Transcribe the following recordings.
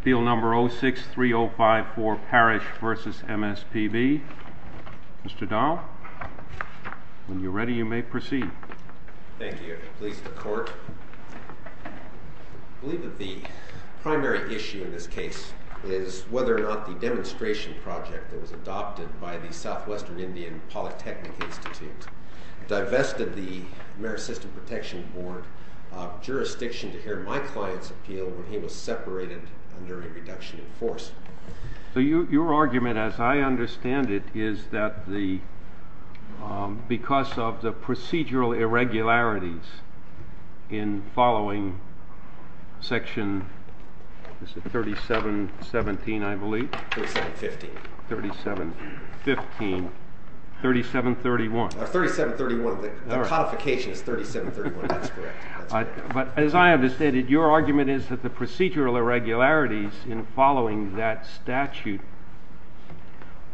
Appeal No. 06-3054, Parrish v. MSPB. Mr. Dahl, when you are ready, you may proceed. Thank you. I believe that the primary issue in this case is whether or not the demonstration project that was adopted by the Southwestern Indian Polytechnic Institute divested the Marist System Protection Board jurisdiction to hear my client's appeal when he was separated under a reduction in force. Your argument, as I understand it, is that because of the procedural irregularities in following section 37.15, 37.31. The codification is 37.31, that's correct. But as I understand it, your argument is that the procedural irregularities in following that statute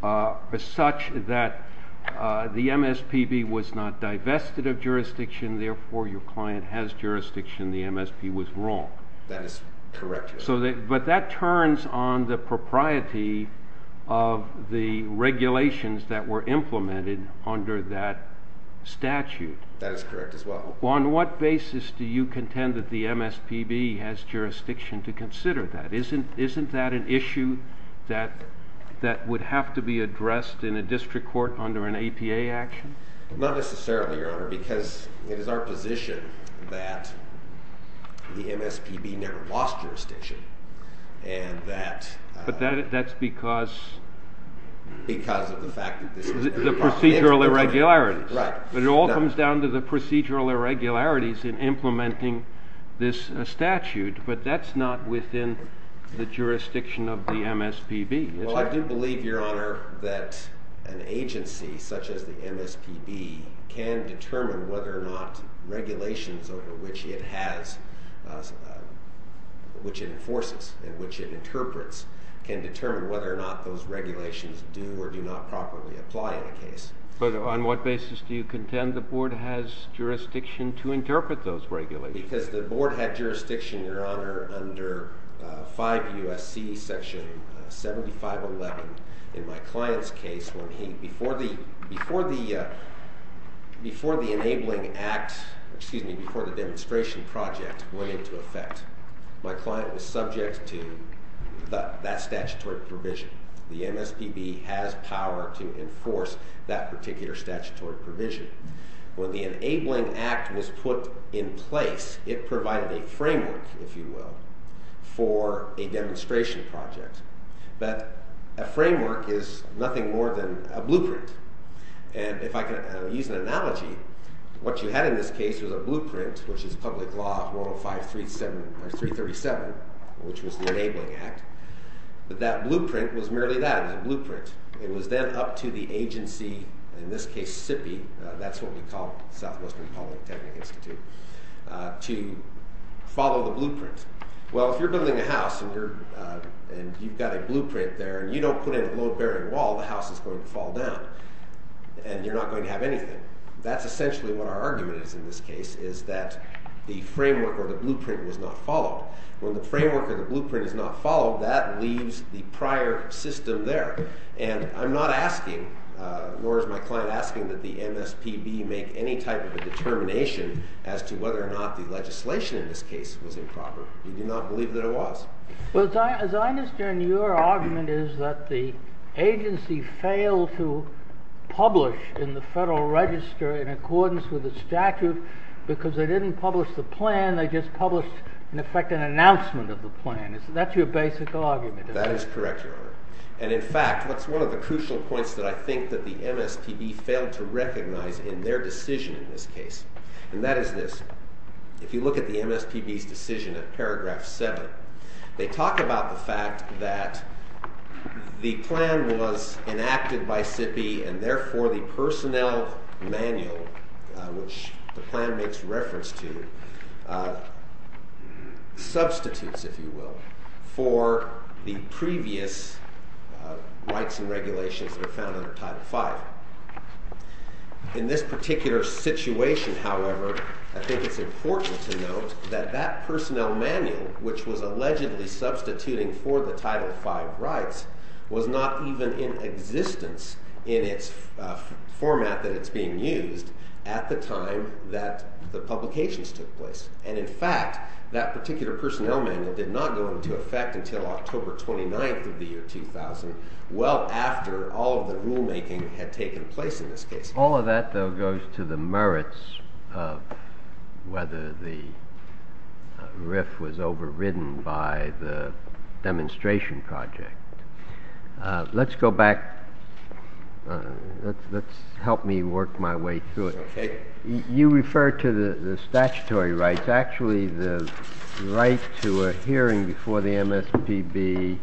are such that the MSPB was not divested of jurisdiction, therefore your client has jurisdiction, the MSPB was wrong. That is correct. But that turns on the propriety of the regulations that were implemented under that statute. That is correct as well. On what basis do you contend that the MSPB has jurisdiction to consider that? Isn't that an issue that would have to be addressed in a district court under an APA action? Not necessarily, Your Honor, because it is our position that the MSPB never lost jurisdiction. But that's because of the procedural irregularities. Right. But it all comes down to the procedural irregularities in implementing this statute, but that's not within the jurisdiction of the MSPB. Well, I do believe, Your Honor, that an agency such as the MSPB can determine whether or not regulations which it enforces and which it interprets can determine whether or not those regulations do or do not properly apply in a case. But on what basis do you contend the board has jurisdiction to interpret those regulations? Because the board had jurisdiction, Your Honor, under 5 U.S.C. section 7511 in my client's case. Before the enabling act, excuse me, before the demonstration project went into effect, my client was subject to that statutory provision. The MSPB has power to enforce that particular statutory provision. When the enabling act was put in place, it provided a framework, if you will, for a demonstration project. But a framework is nothing more than a blueprint. And if I can use an analogy, what you had in this case was a blueprint, which is public law 405-337, which was the enabling act. But that blueprint was merely that, a blueprint. It was then up to the agency, in this case SIPI, that's what we call Southwestern Public Technic Institute, to follow the blueprint. Well, if you're building a house and you've got a blueprint there and you don't put in a load-bearing wall, the house is going to fall down. And you're not going to have anything. That's essentially what our argument is in this case, is that the framework or the blueprint was not followed. When the framework or the blueprint is not followed, that leaves the prior system there. And I'm not asking, nor is my client asking, that the MSPB make any type of a determination as to whether or not the legislation in this case was improper. We do not believe that it was. Well, as I understand your argument is that the agency failed to publish in the Federal Register in accordance with the statute because they didn't publish the plan. They just published, in effect, an announcement of the plan. That's your basic argument, isn't it? That is correct, Your Honor. And in fact, that's one of the crucial points that I think that the MSPB failed to recognize in their decision in this case. And that is this. If you look at the MSPB's decision in paragraph 7, they talk about the fact that the plan was enacted by SIPPY, and therefore the personnel manual, which the plan makes reference to, substitutes, if you will, for the previous rights and regulations that are found under Title V. In this particular situation, however, I think it's important to note that that personnel manual, which was allegedly substituting for the Title V rights, was not even in existence in its format that it's being used at the time that the publications took place. And in fact, that particular personnel manual did not go into effect until October 29 of the year 2000, well after all of the rulemaking had taken place in this case. All of that, though, goes to the merits of whether the RIF was overridden by the demonstration project. Let's go back. Let's help me work my way through it. Okay. You refer to the statutory rights. Actually, the right to a hearing before the MSPB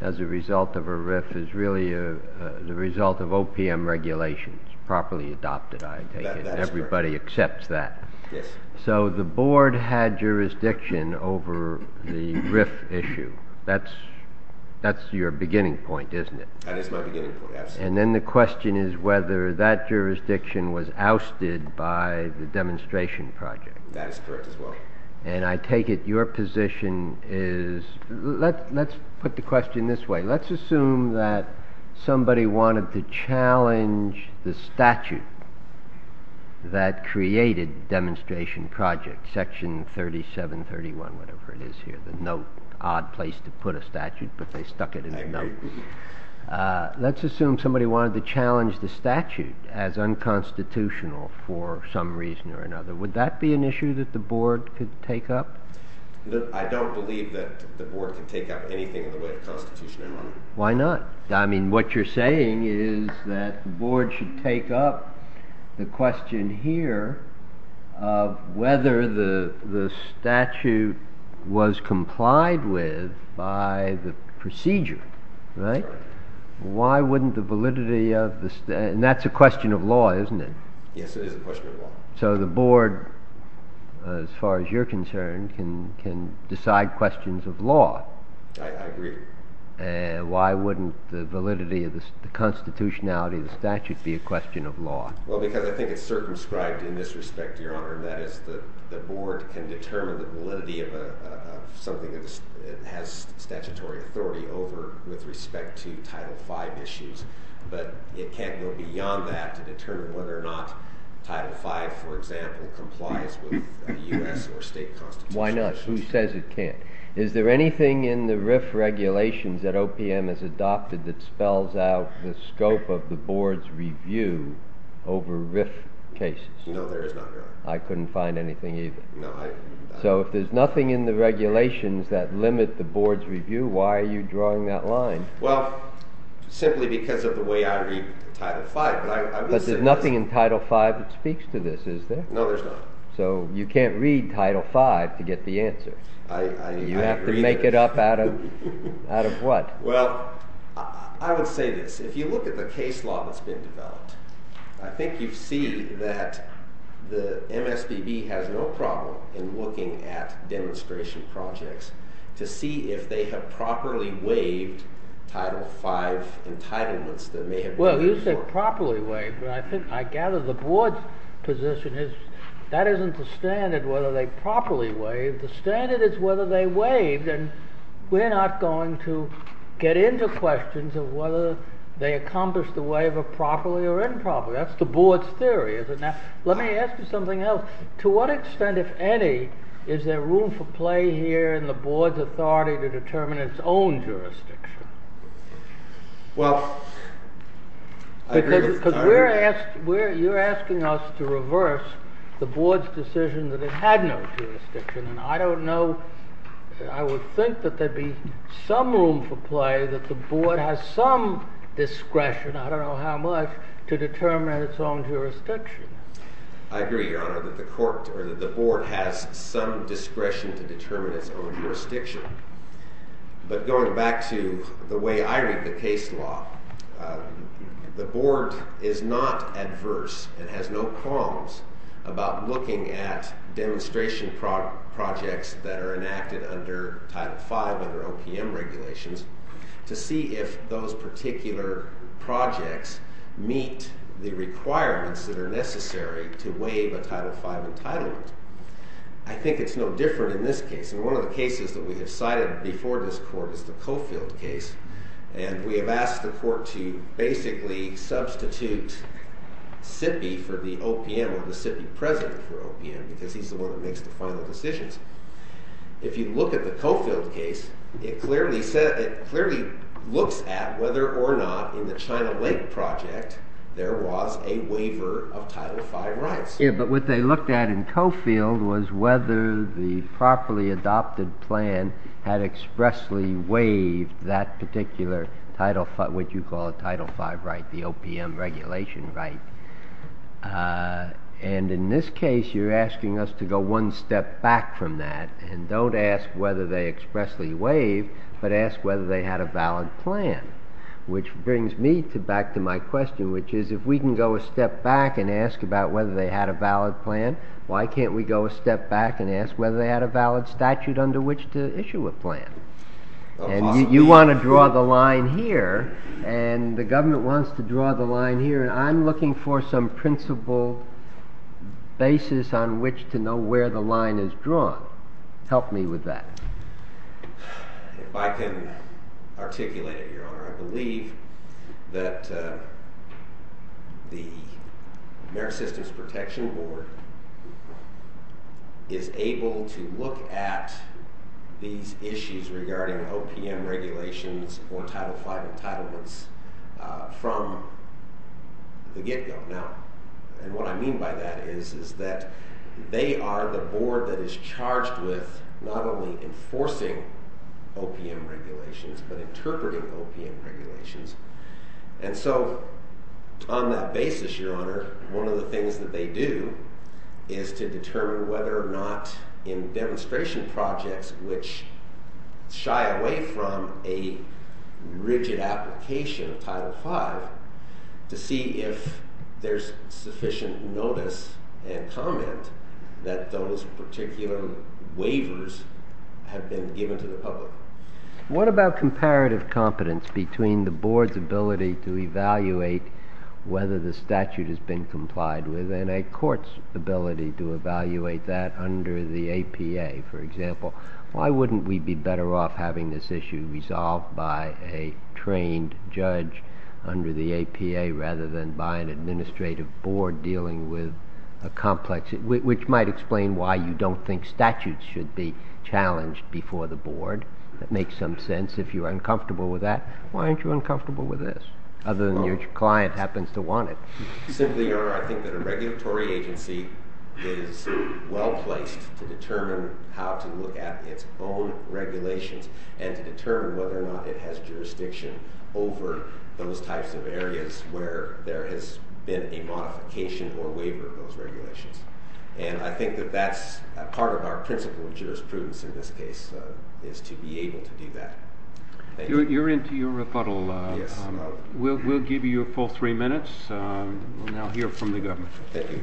as a result of a RIF is really the result of OPM regulations, properly adopted, I take it. That is correct. And everybody accepts that. Yes. So the board had jurisdiction over the RIF issue. That's your beginning point, isn't it? That is my beginning point, absolutely. And then the question is whether that jurisdiction was ousted by the demonstration project. That is correct as well. And I take it your position is – let's put the question this way. Let's assume that somebody wanted to challenge the statute that created the demonstration project, Section 3731, whatever it is here, the note. Odd place to put a statute, but they stuck it in the note. Let's assume somebody wanted to challenge the statute as unconstitutional for some reason or another. Would that be an issue that the board could take up? I don't believe that the board could take up anything in the way of constitutional enrollment. Why not? I mean, what you're saying is that the board should take up the question here of whether the statute was complied with by the procedure, right? Why wouldn't the validity of the – and that's a question of law, isn't it? Yes, it is a question of law. So the board, as far as you're concerned, can decide questions of law. I agree. Why wouldn't the validity of the constitutionality of the statute be a question of law? Well, because I think it's circumscribed in this respect, Your Honor. That is, the board can determine the validity of something that has statutory authority over with respect to Title V issues. But it can't go beyond that to determine whether or not Title V, for example, complies with U.S. or state constitution. Why not? Who says it can't? Is there anything in the RIF regulations that OPM has adopted that spells out the scope of the board's review over RIF cases? No, there is not, Your Honor. I couldn't find anything either. No, I – So if there's nothing in the regulations that limit the board's review, why are you drawing that line? Well, simply because of the way I read Title V. But there's nothing in Title V that speaks to this, is there? No, there's not. So you can't read Title V to get the answer? You have to make it up out of what? Well, I would say this. If you look at the case law that's been developed, I think you see that the MSBB has no problem in looking at demonstration projects to see if they have properly waived Title V entitlements that may have been waived before. Well, you said properly waived, but I gather the board's position is that isn't the standard whether they properly waived. The standard is whether they waived, and we're not going to get into questions of whether they accomplished the waiver properly or improperly. That's the board's theory, is it not? Let me ask you something else. To what extent, if any, is there room for play here in the board's authority to determine its own jurisdiction? Well, I agree. Because you're asking us to reverse the board's decision that it had no jurisdiction. And I don't know. I would think that there'd be some room for play, that the board has some discretion, I don't know how much, to determine its own jurisdiction. I agree, Your Honor, that the board has some discretion to determine its own jurisdiction. But going back to the way I read the case law, the board is not adverse and has no qualms about looking at demonstration projects that are enacted under Title V, under OPM regulations, to see if those particular projects meet the requirements that are necessary to waive a Title V entitlement. I think it's no different in this case. And one of the cases that we have cited before this court is the Coffield case. And we have asked the court to basically substitute Sippey for the OPM, or the Sippey president for OPM, because he's the one that makes the final decisions. If you look at the Coffield case, it clearly looks at whether or not, in the China Lake project, there was a waiver of Title V rights. Yeah, but what they looked at in Coffield was whether the properly adopted plan had expressly waived that particular Title V, what you call a Title V right, the OPM regulation right. And in this case, you're asking us to go one step back from that and don't ask whether they expressly waived, but ask whether they had a valid plan. Which brings me back to my question, which is, if we can go a step back and ask about whether they had a valid plan, why can't we go a step back and ask whether they had a valid statute under which to issue a plan? And you want to draw the line here, and the government wants to draw the line here, and I'm looking for some principle basis on which to know where the line is drawn. Help me with that. If I can articulate it, Your Honor, I believe that the Marist Systems Protection Board is able to look at these issues regarding OPM regulations or Title V entitlements from the get-go. And what I mean by that is that they are the board that is charged with not only enforcing OPM regulations, but interpreting OPM regulations. And so, on that basis, Your Honor, one of the things that they do is to determine whether or not in demonstration projects which shy away from a rigid application of Title V, to see if there's sufficient notice and comment that those particular waivers have been given to the public. What about comparative competence between the board's ability to evaluate whether the statute has been complied with and a court's ability to evaluate that under the APA, for example? Why wouldn't we be better off having this issue resolved by a trained judge under the APA rather than by an administrative board dealing with a complex issue, which might explain why you don't think statutes should be challenged before the board. That makes some sense. If you're uncomfortable with that, why aren't you uncomfortable with this, other than your client happens to want it? Simply, Your Honor, I think that a regulatory agency is well-placed to determine how to look at its own regulations and to determine whether or not it has jurisdiction over those types of areas where there has been a modification or waiver of those regulations. And I think that that's part of our principle of jurisprudence in this case, is to be able to do that. You're into your rebuttal. Yes. We'll give you a full three minutes. We'll now hear from the government. Thank you.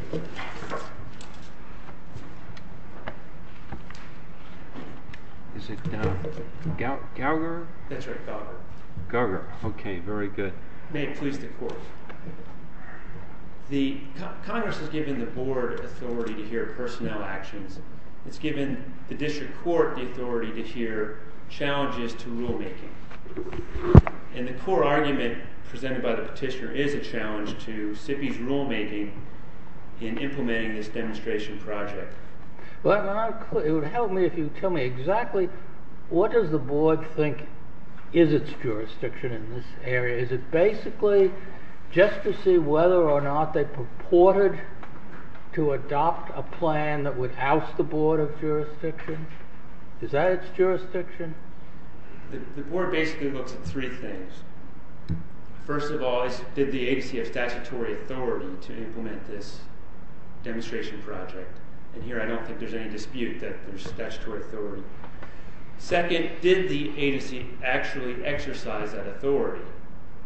Is it Gauger? That's right, Gauger. Gauger, okay, very good. May it please the Court. Congress has given the board authority to hear personnel actions. It's given the district court the authority to hear challenges to rulemaking. And the core argument presented by the petitioner is a challenge to SIPI's rulemaking in implementing this demonstration project. It would help me if you tell me exactly what does the board think is its jurisdiction in this area. Is it basically just to see whether or not they purported to adopt a plan that would oust the board of jurisdiction? Is that its jurisdiction? The board basically looks at three things. First of all, did the agency have statutory authority to implement this demonstration project? And here I don't think there's any dispute that there's statutory authority. Second, did the agency actually exercise that authority?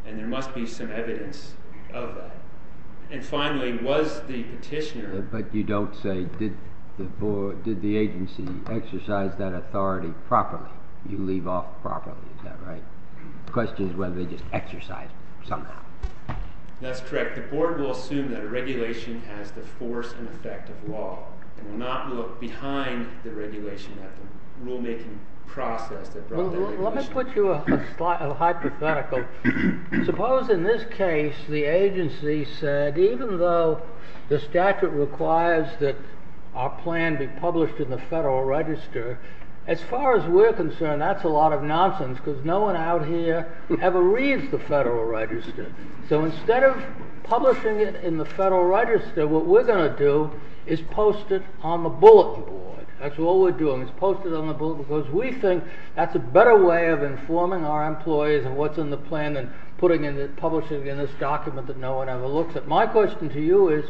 And there must be some evidence of that. And finally, was the petitioner... But you don't say, did the agency exercise that authority properly? You leave off properly, is that right? The question is whether they just exercised it somehow. That's correct. The board will assume that a regulation has the force and effect of law. It will not look behind the regulation at the rulemaking process that brought the regulation. Let me put you a hypothetical. Suppose in this case the agency said, even though the statute requires that our plan be published in the Federal Register, as far as we're concerned that's a lot of nonsense because no one out here ever reads the Federal Register. So instead of publishing it in the Federal Register, what we're going to do is post it on the bullet board. That's all we're doing, is post it on the bullet because we think that's a better way of informing our employees of what's in the plan than publishing it in this document that no one ever looks at. My question to you is,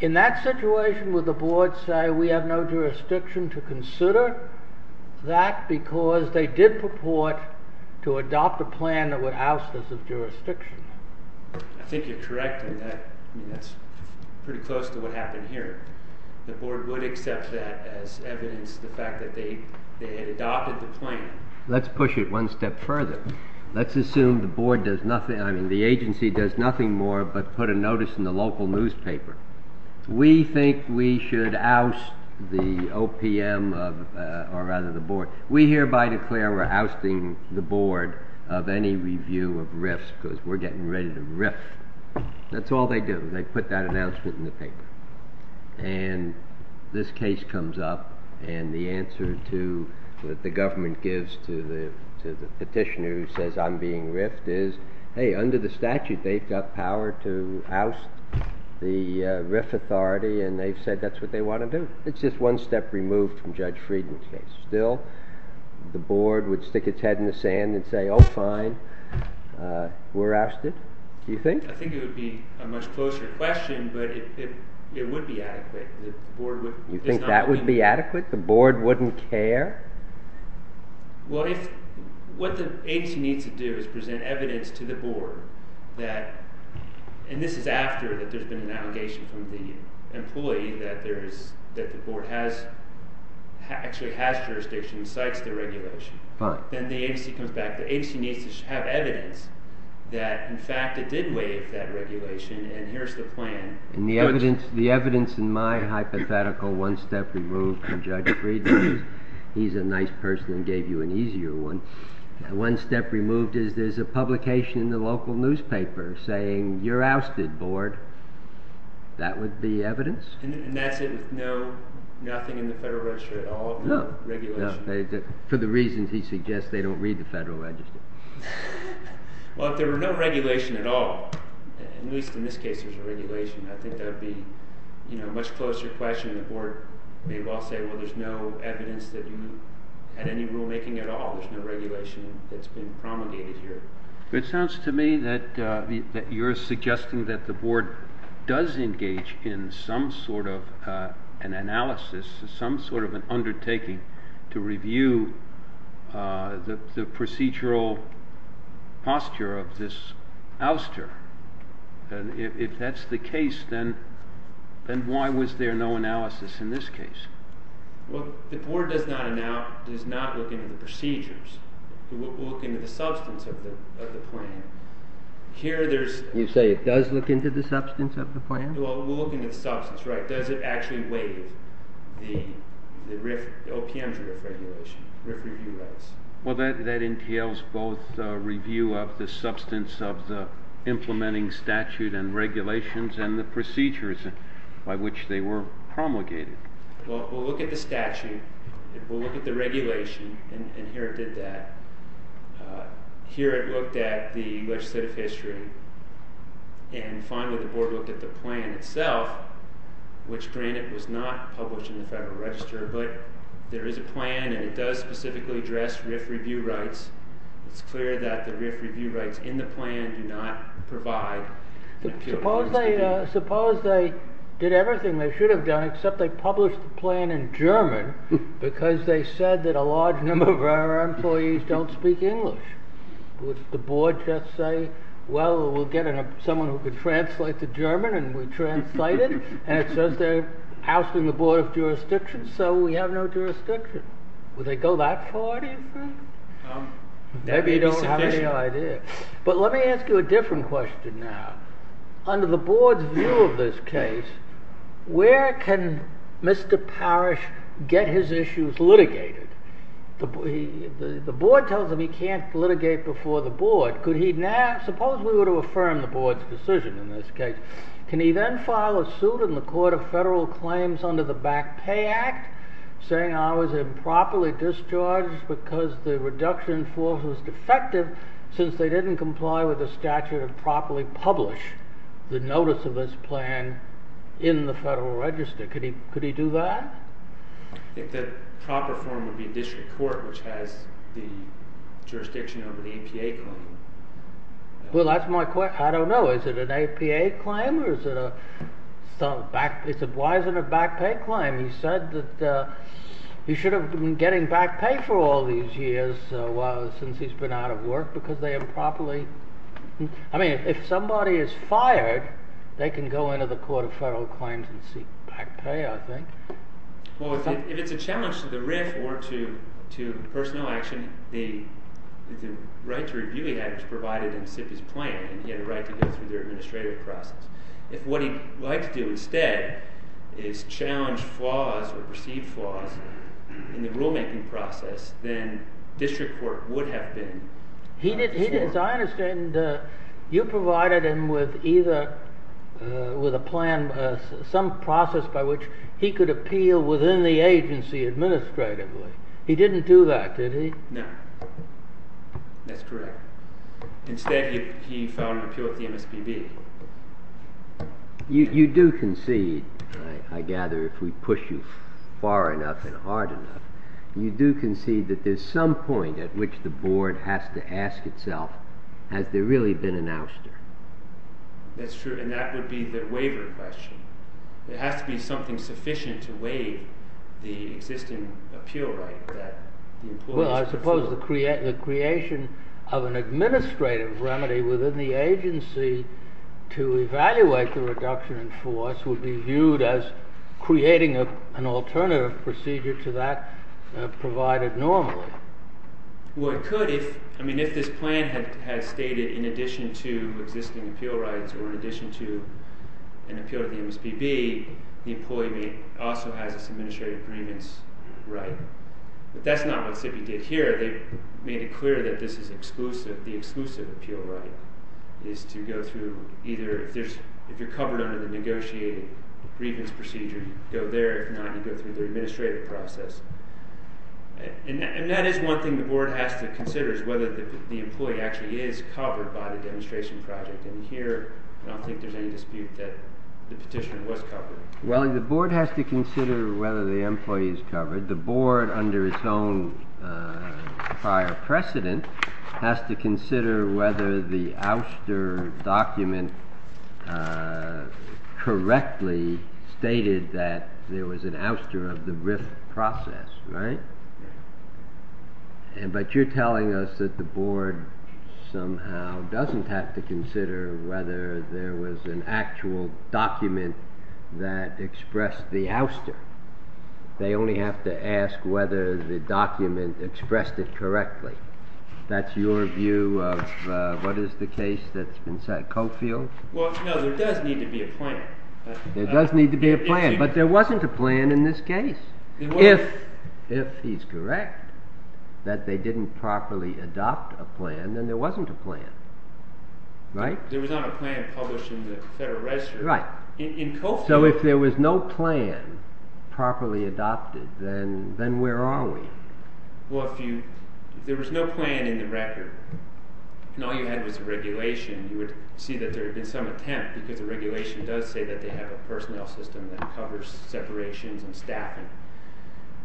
in that situation would the board say, we have no jurisdiction to consider that because they did purport to adopt a plan that would oust us of jurisdiction? I think you're correct in that. That's pretty close to what happened here. The board would accept that as evidence of the fact that they had adopted the plan. Let's push it one step further. Let's assume the agency does nothing more but put a notice in the local newspaper. We think we should oust the OPM, or rather the board. We hereby declare we're ousting the board of any review of RIFs because we're getting ready to RIF. That's all they do, they put that announcement in the paper. And this case comes up and the answer to what the government gives to the petitioner who says I'm being RIFed is, hey, under the statute they've got power to oust the RIF authority and they've said that's what they want to do. It's just one step removed from Judge Friedman's case. Still, the board would stick its head in the sand and say, oh fine, we're ousted. Do you think? I think it would be a much closer question, but it would be adequate. You think that would be adequate? The board wouldn't care? What the agency needs to do is present evidence to the board that, and this is after there's been an allegation from the employee that the board actually has jurisdiction and cites the regulation. Then the agency comes back. The agency needs to have evidence that in fact it did waive that regulation and here's the plan. The evidence in my hypothetical one step removed from Judge Friedman's, he's a nice person and gave you an easier one, one step removed is there's a publication in the local newspaper saying you're ousted, board. That would be evidence? And that's it with no, nothing in the Federal Register at all? No. For the reasons he suggests, they don't read the Federal Register. Well, if there were no regulation at all, at least in this case there's a regulation, I think that would be a much closer question. The board may well say, well, there's no evidence that you had any rulemaking at all. There's no regulation that's been promulgated here. It sounds to me that you're suggesting that the board does engage in some sort of an analysis, some sort of an undertaking to review the procedural posture of this ouster. If that's the case, then why was there no analysis in this case? Well, the board does not look into the procedures. We'll look into the substance of the plan. You say it does look into the substance of the plan? Well, we'll look into the substance, right. Does it actually waive the OPM's review rights? Well, that entails both review of the substance of the implementing statute and regulations and the procedures by which they were promulgated. We'll look at the statute. We'll look at the regulation. And here it did that. Here it looked at the legislative history. And finally, the board looked at the plan itself, which, granted, was not published in the Federal Register. But there is a plan, and it does specifically address RIF review rights. It's clear that the RIF review rights in the plan do not provide an appeal. Suppose they did everything they should have done, except they published the plan in German, because they said that a large number of our employees don't speak English. Would the board just say, well, we'll get someone who can translate to German and we'll translate it? And it says they're ousting the Board of Jurisdiction, so we have no jurisdiction. Would they go that far, do you think? Maybe you don't have any idea. But let me ask you a different question now. Under the board's view of this case, where can Mr. Parrish get his issues litigated? The board tells him he can't litigate before the board. Suppose we were to affirm the board's decision in this case. Can he then file a suit in the Court of Federal Claims under the Back Pay Act, saying I was improperly discharged because the reduction in force was defective, since they didn't comply with the statute and properly publish the notice of this plan in the Federal Register? Could he do that? I think the proper form would be district court, which has the jurisdiction over the APA claim. Well, that's my question. I don't know. Is it an APA claim? Why is it a back pay claim? He said that he should have been getting back pay for all these years, since he's been out of work, because they improperly… I mean, if somebody is fired, they can go into the Court of Federal Claims and seek back pay, I think. Well, if it's a challenge to the RIF or to personnel action, the right to review he had was provided in SIPI's plan, and he had a right to go through their administrative process. If what he'd like to do instead is challenge flaws or perceived flaws in the rulemaking process, then district court would have been… As I understand, you provided him with either – with a plan, some process by which he could appeal within the agency administratively. He didn't do that, did he? No. That's correct. Instead, he filed an appeal at the MSPB. You do concede, I gather, if we push you far enough and hard enough, you do concede that there's some point at which the board has to ask itself, has there really been an ouster? That's true, and that would be the waiver question. There has to be something sufficient to waive the existing appeal right that the employer has proposed. The creation of an administrative remedy within the agency to evaluate the reduction in force would be viewed as creating an alternative procedure to that provided normally. Well, it could if – I mean, if this plan had stated in addition to existing appeal rights or in addition to an appeal at the MSPB, the employee may also have this administrative agreements right. But that's not what SIPPY did here. They made it clear that this is exclusive – the exclusive appeal right is to go through either – if there's – if you're covered under the negotiating agreements procedure, you go there. If not, you go through the administrative process. And that is one thing the board has to consider is whether the employee actually is covered by the demonstration project. And here, I don't think there's any dispute that the petition was covered. Well, the board has to consider whether the employee is covered. The board, under its own prior precedent, has to consider whether the ouster document correctly stated that there was an ouster of the RIF process, right? But you're telling us that the board somehow doesn't have to consider whether there was an actual document that expressed the ouster. They only have to ask whether the document expressed it correctly. That's your view of what is the case that's been set? Cofield? Well, no, there does need to be a plan. There does need to be a plan. But there wasn't a plan in this case. If he's correct that they didn't properly adopt a plan, then there wasn't a plan, right? There was not a plan published in the Federal Register. Right. So if there was no plan properly adopted, then where are we? Well, if there was no plan in the record, and all you had was the regulation, you would see that there had been some attempt, because the regulation does say that they have a personnel system that covers separations and staffing.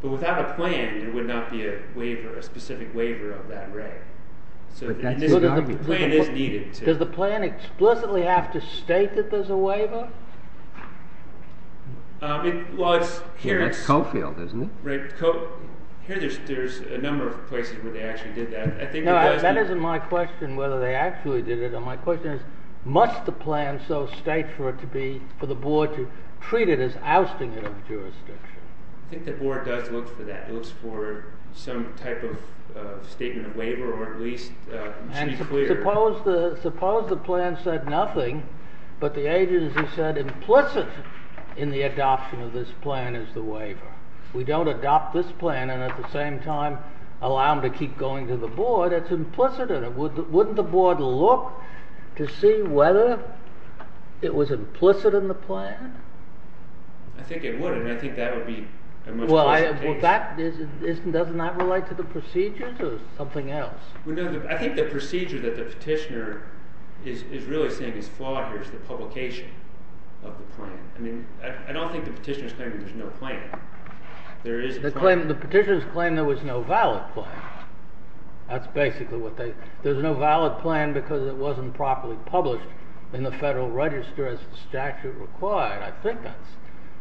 But without a plan, there would not be a specific waiver of that right. So the plan is needed. Does the plan explicitly have to state that there's a waiver? That's Cofield, isn't it? Right. Here, there's a number of places where they actually did that. No, that isn't my question, whether they actually did it. My question is, must the plan so state for the board to treat it as ousting it of jurisdiction? I think the board does look for that. It looks for some type of statement of waiver, or at least to be clear. Suppose the plan said nothing, but the agency said implicit in the adoption of this plan is the waiver. We don't adopt this plan and at the same time allow them to keep going to the board. It's implicit in it. Wouldn't the board look to see whether it was implicit in the plan? I think it would, and I think that would be a much better case. Well, doesn't that relate to the procedures or something else? I think the procedure that the petitioner is really saying is flawed here is the publication of the plan. I don't think the petitioner is claiming there's no plan. The petitioner is claiming there was no valid plan. That's basically what they—there's no valid plan because it wasn't properly published in the Federal Register as the statute required. I think that's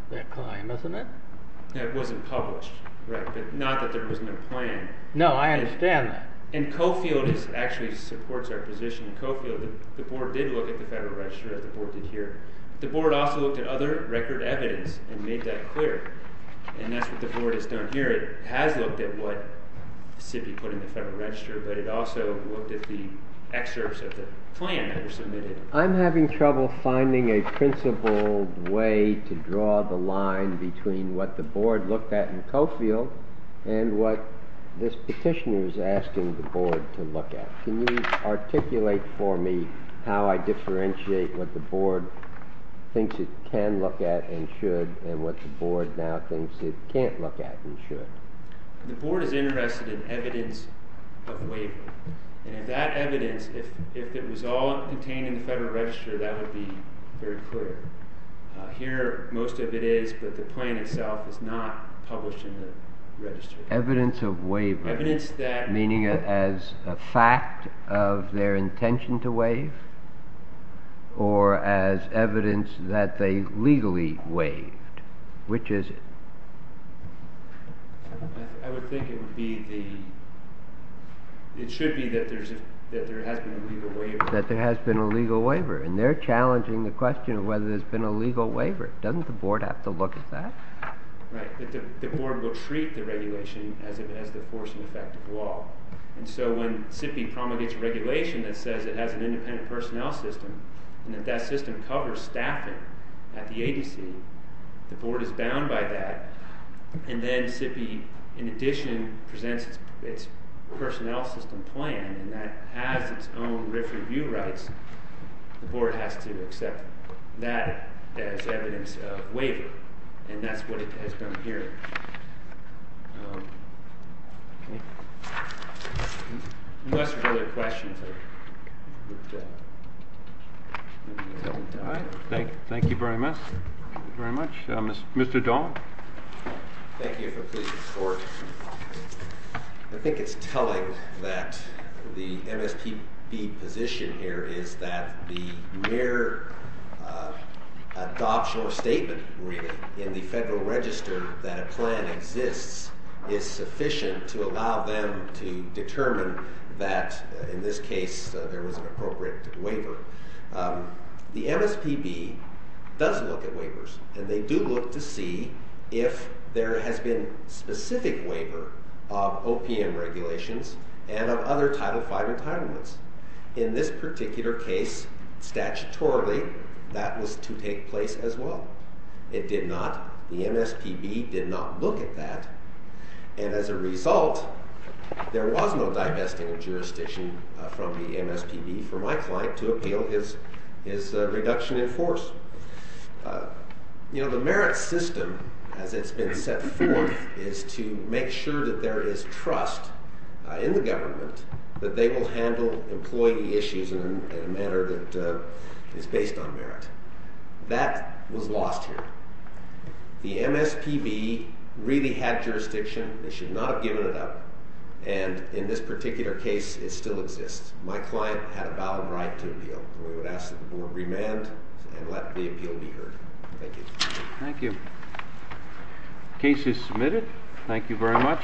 their claim, isn't it? It wasn't published, right, but not that there was no plan. No, I understand that. And Coffield actually supports our position. Coffield, the board did look at the Federal Register as the board did here. The board also looked at other record evidence and made that clear, and that's what the board has done here. It has looked at what should be put in the Federal Register, but it also looked at the excerpts of the plan that were submitted. I'm having trouble finding a principled way to draw the line between what the board looked at in Coffield and what this petitioner is asking the board to look at. Can you articulate for me how I differentiate what the board thinks it can look at and should and what the board now thinks it can't look at and should? The board is interested in evidence of waiver, and if that evidence, if it was all contained in the Federal Register, that would be very clear. Here, most of it is, but the plan itself is not published in the Register. Evidence of waiver, meaning as a fact of their intention to waive or as evidence that they legally waived? Which is it? I would think it would be the, it should be that there has been a legal waiver. And they're challenging the question of whether there's been a legal waiver. Doesn't the board have to look at that? Right, but the board will treat the regulation as if it has the force and effect of law. And so when SIPI promulgates regulation that says it has an independent personnel system and that that system covers staffing at the agency, the board is bound by that. And then SIPI, in addition, presents its personnel system plan and that has its own review rights. The board has to accept that as evidence of waiver. And that's what it has done here. Unless there are other questions. Thank you very much. Thank you very much. Mr. Dahl? Thank you for a pleasing report. I think it's telling that the MSPB position here is that the mere adoption or statement, really, in the Federal Register that a plan exists is sufficient to allow them to determine that, in this case, there was an appropriate waiver. The MSPB does look at waivers. And they do look to see if there has been specific waiver of OPM regulations and of other Title V entitlements. In this particular case, statutorily, that was to take place as well. It did not. The MSPB did not look at that. And as a result, there was no divesting of jurisdiction from the MSPB for my client to appeal his reduction in force. You know, the merit system, as it's been set forth, is to make sure that there is trust in the government that they will handle employee issues in a manner that is based on merit. That was lost here. The MSPB really had jurisdiction. They should not have given it up. And in this particular case, it still exists. My client had a valid right to appeal. We would ask that the Board remand and let the appeal be heard. Thank you. Thank you. Case is submitted. Thank you very much.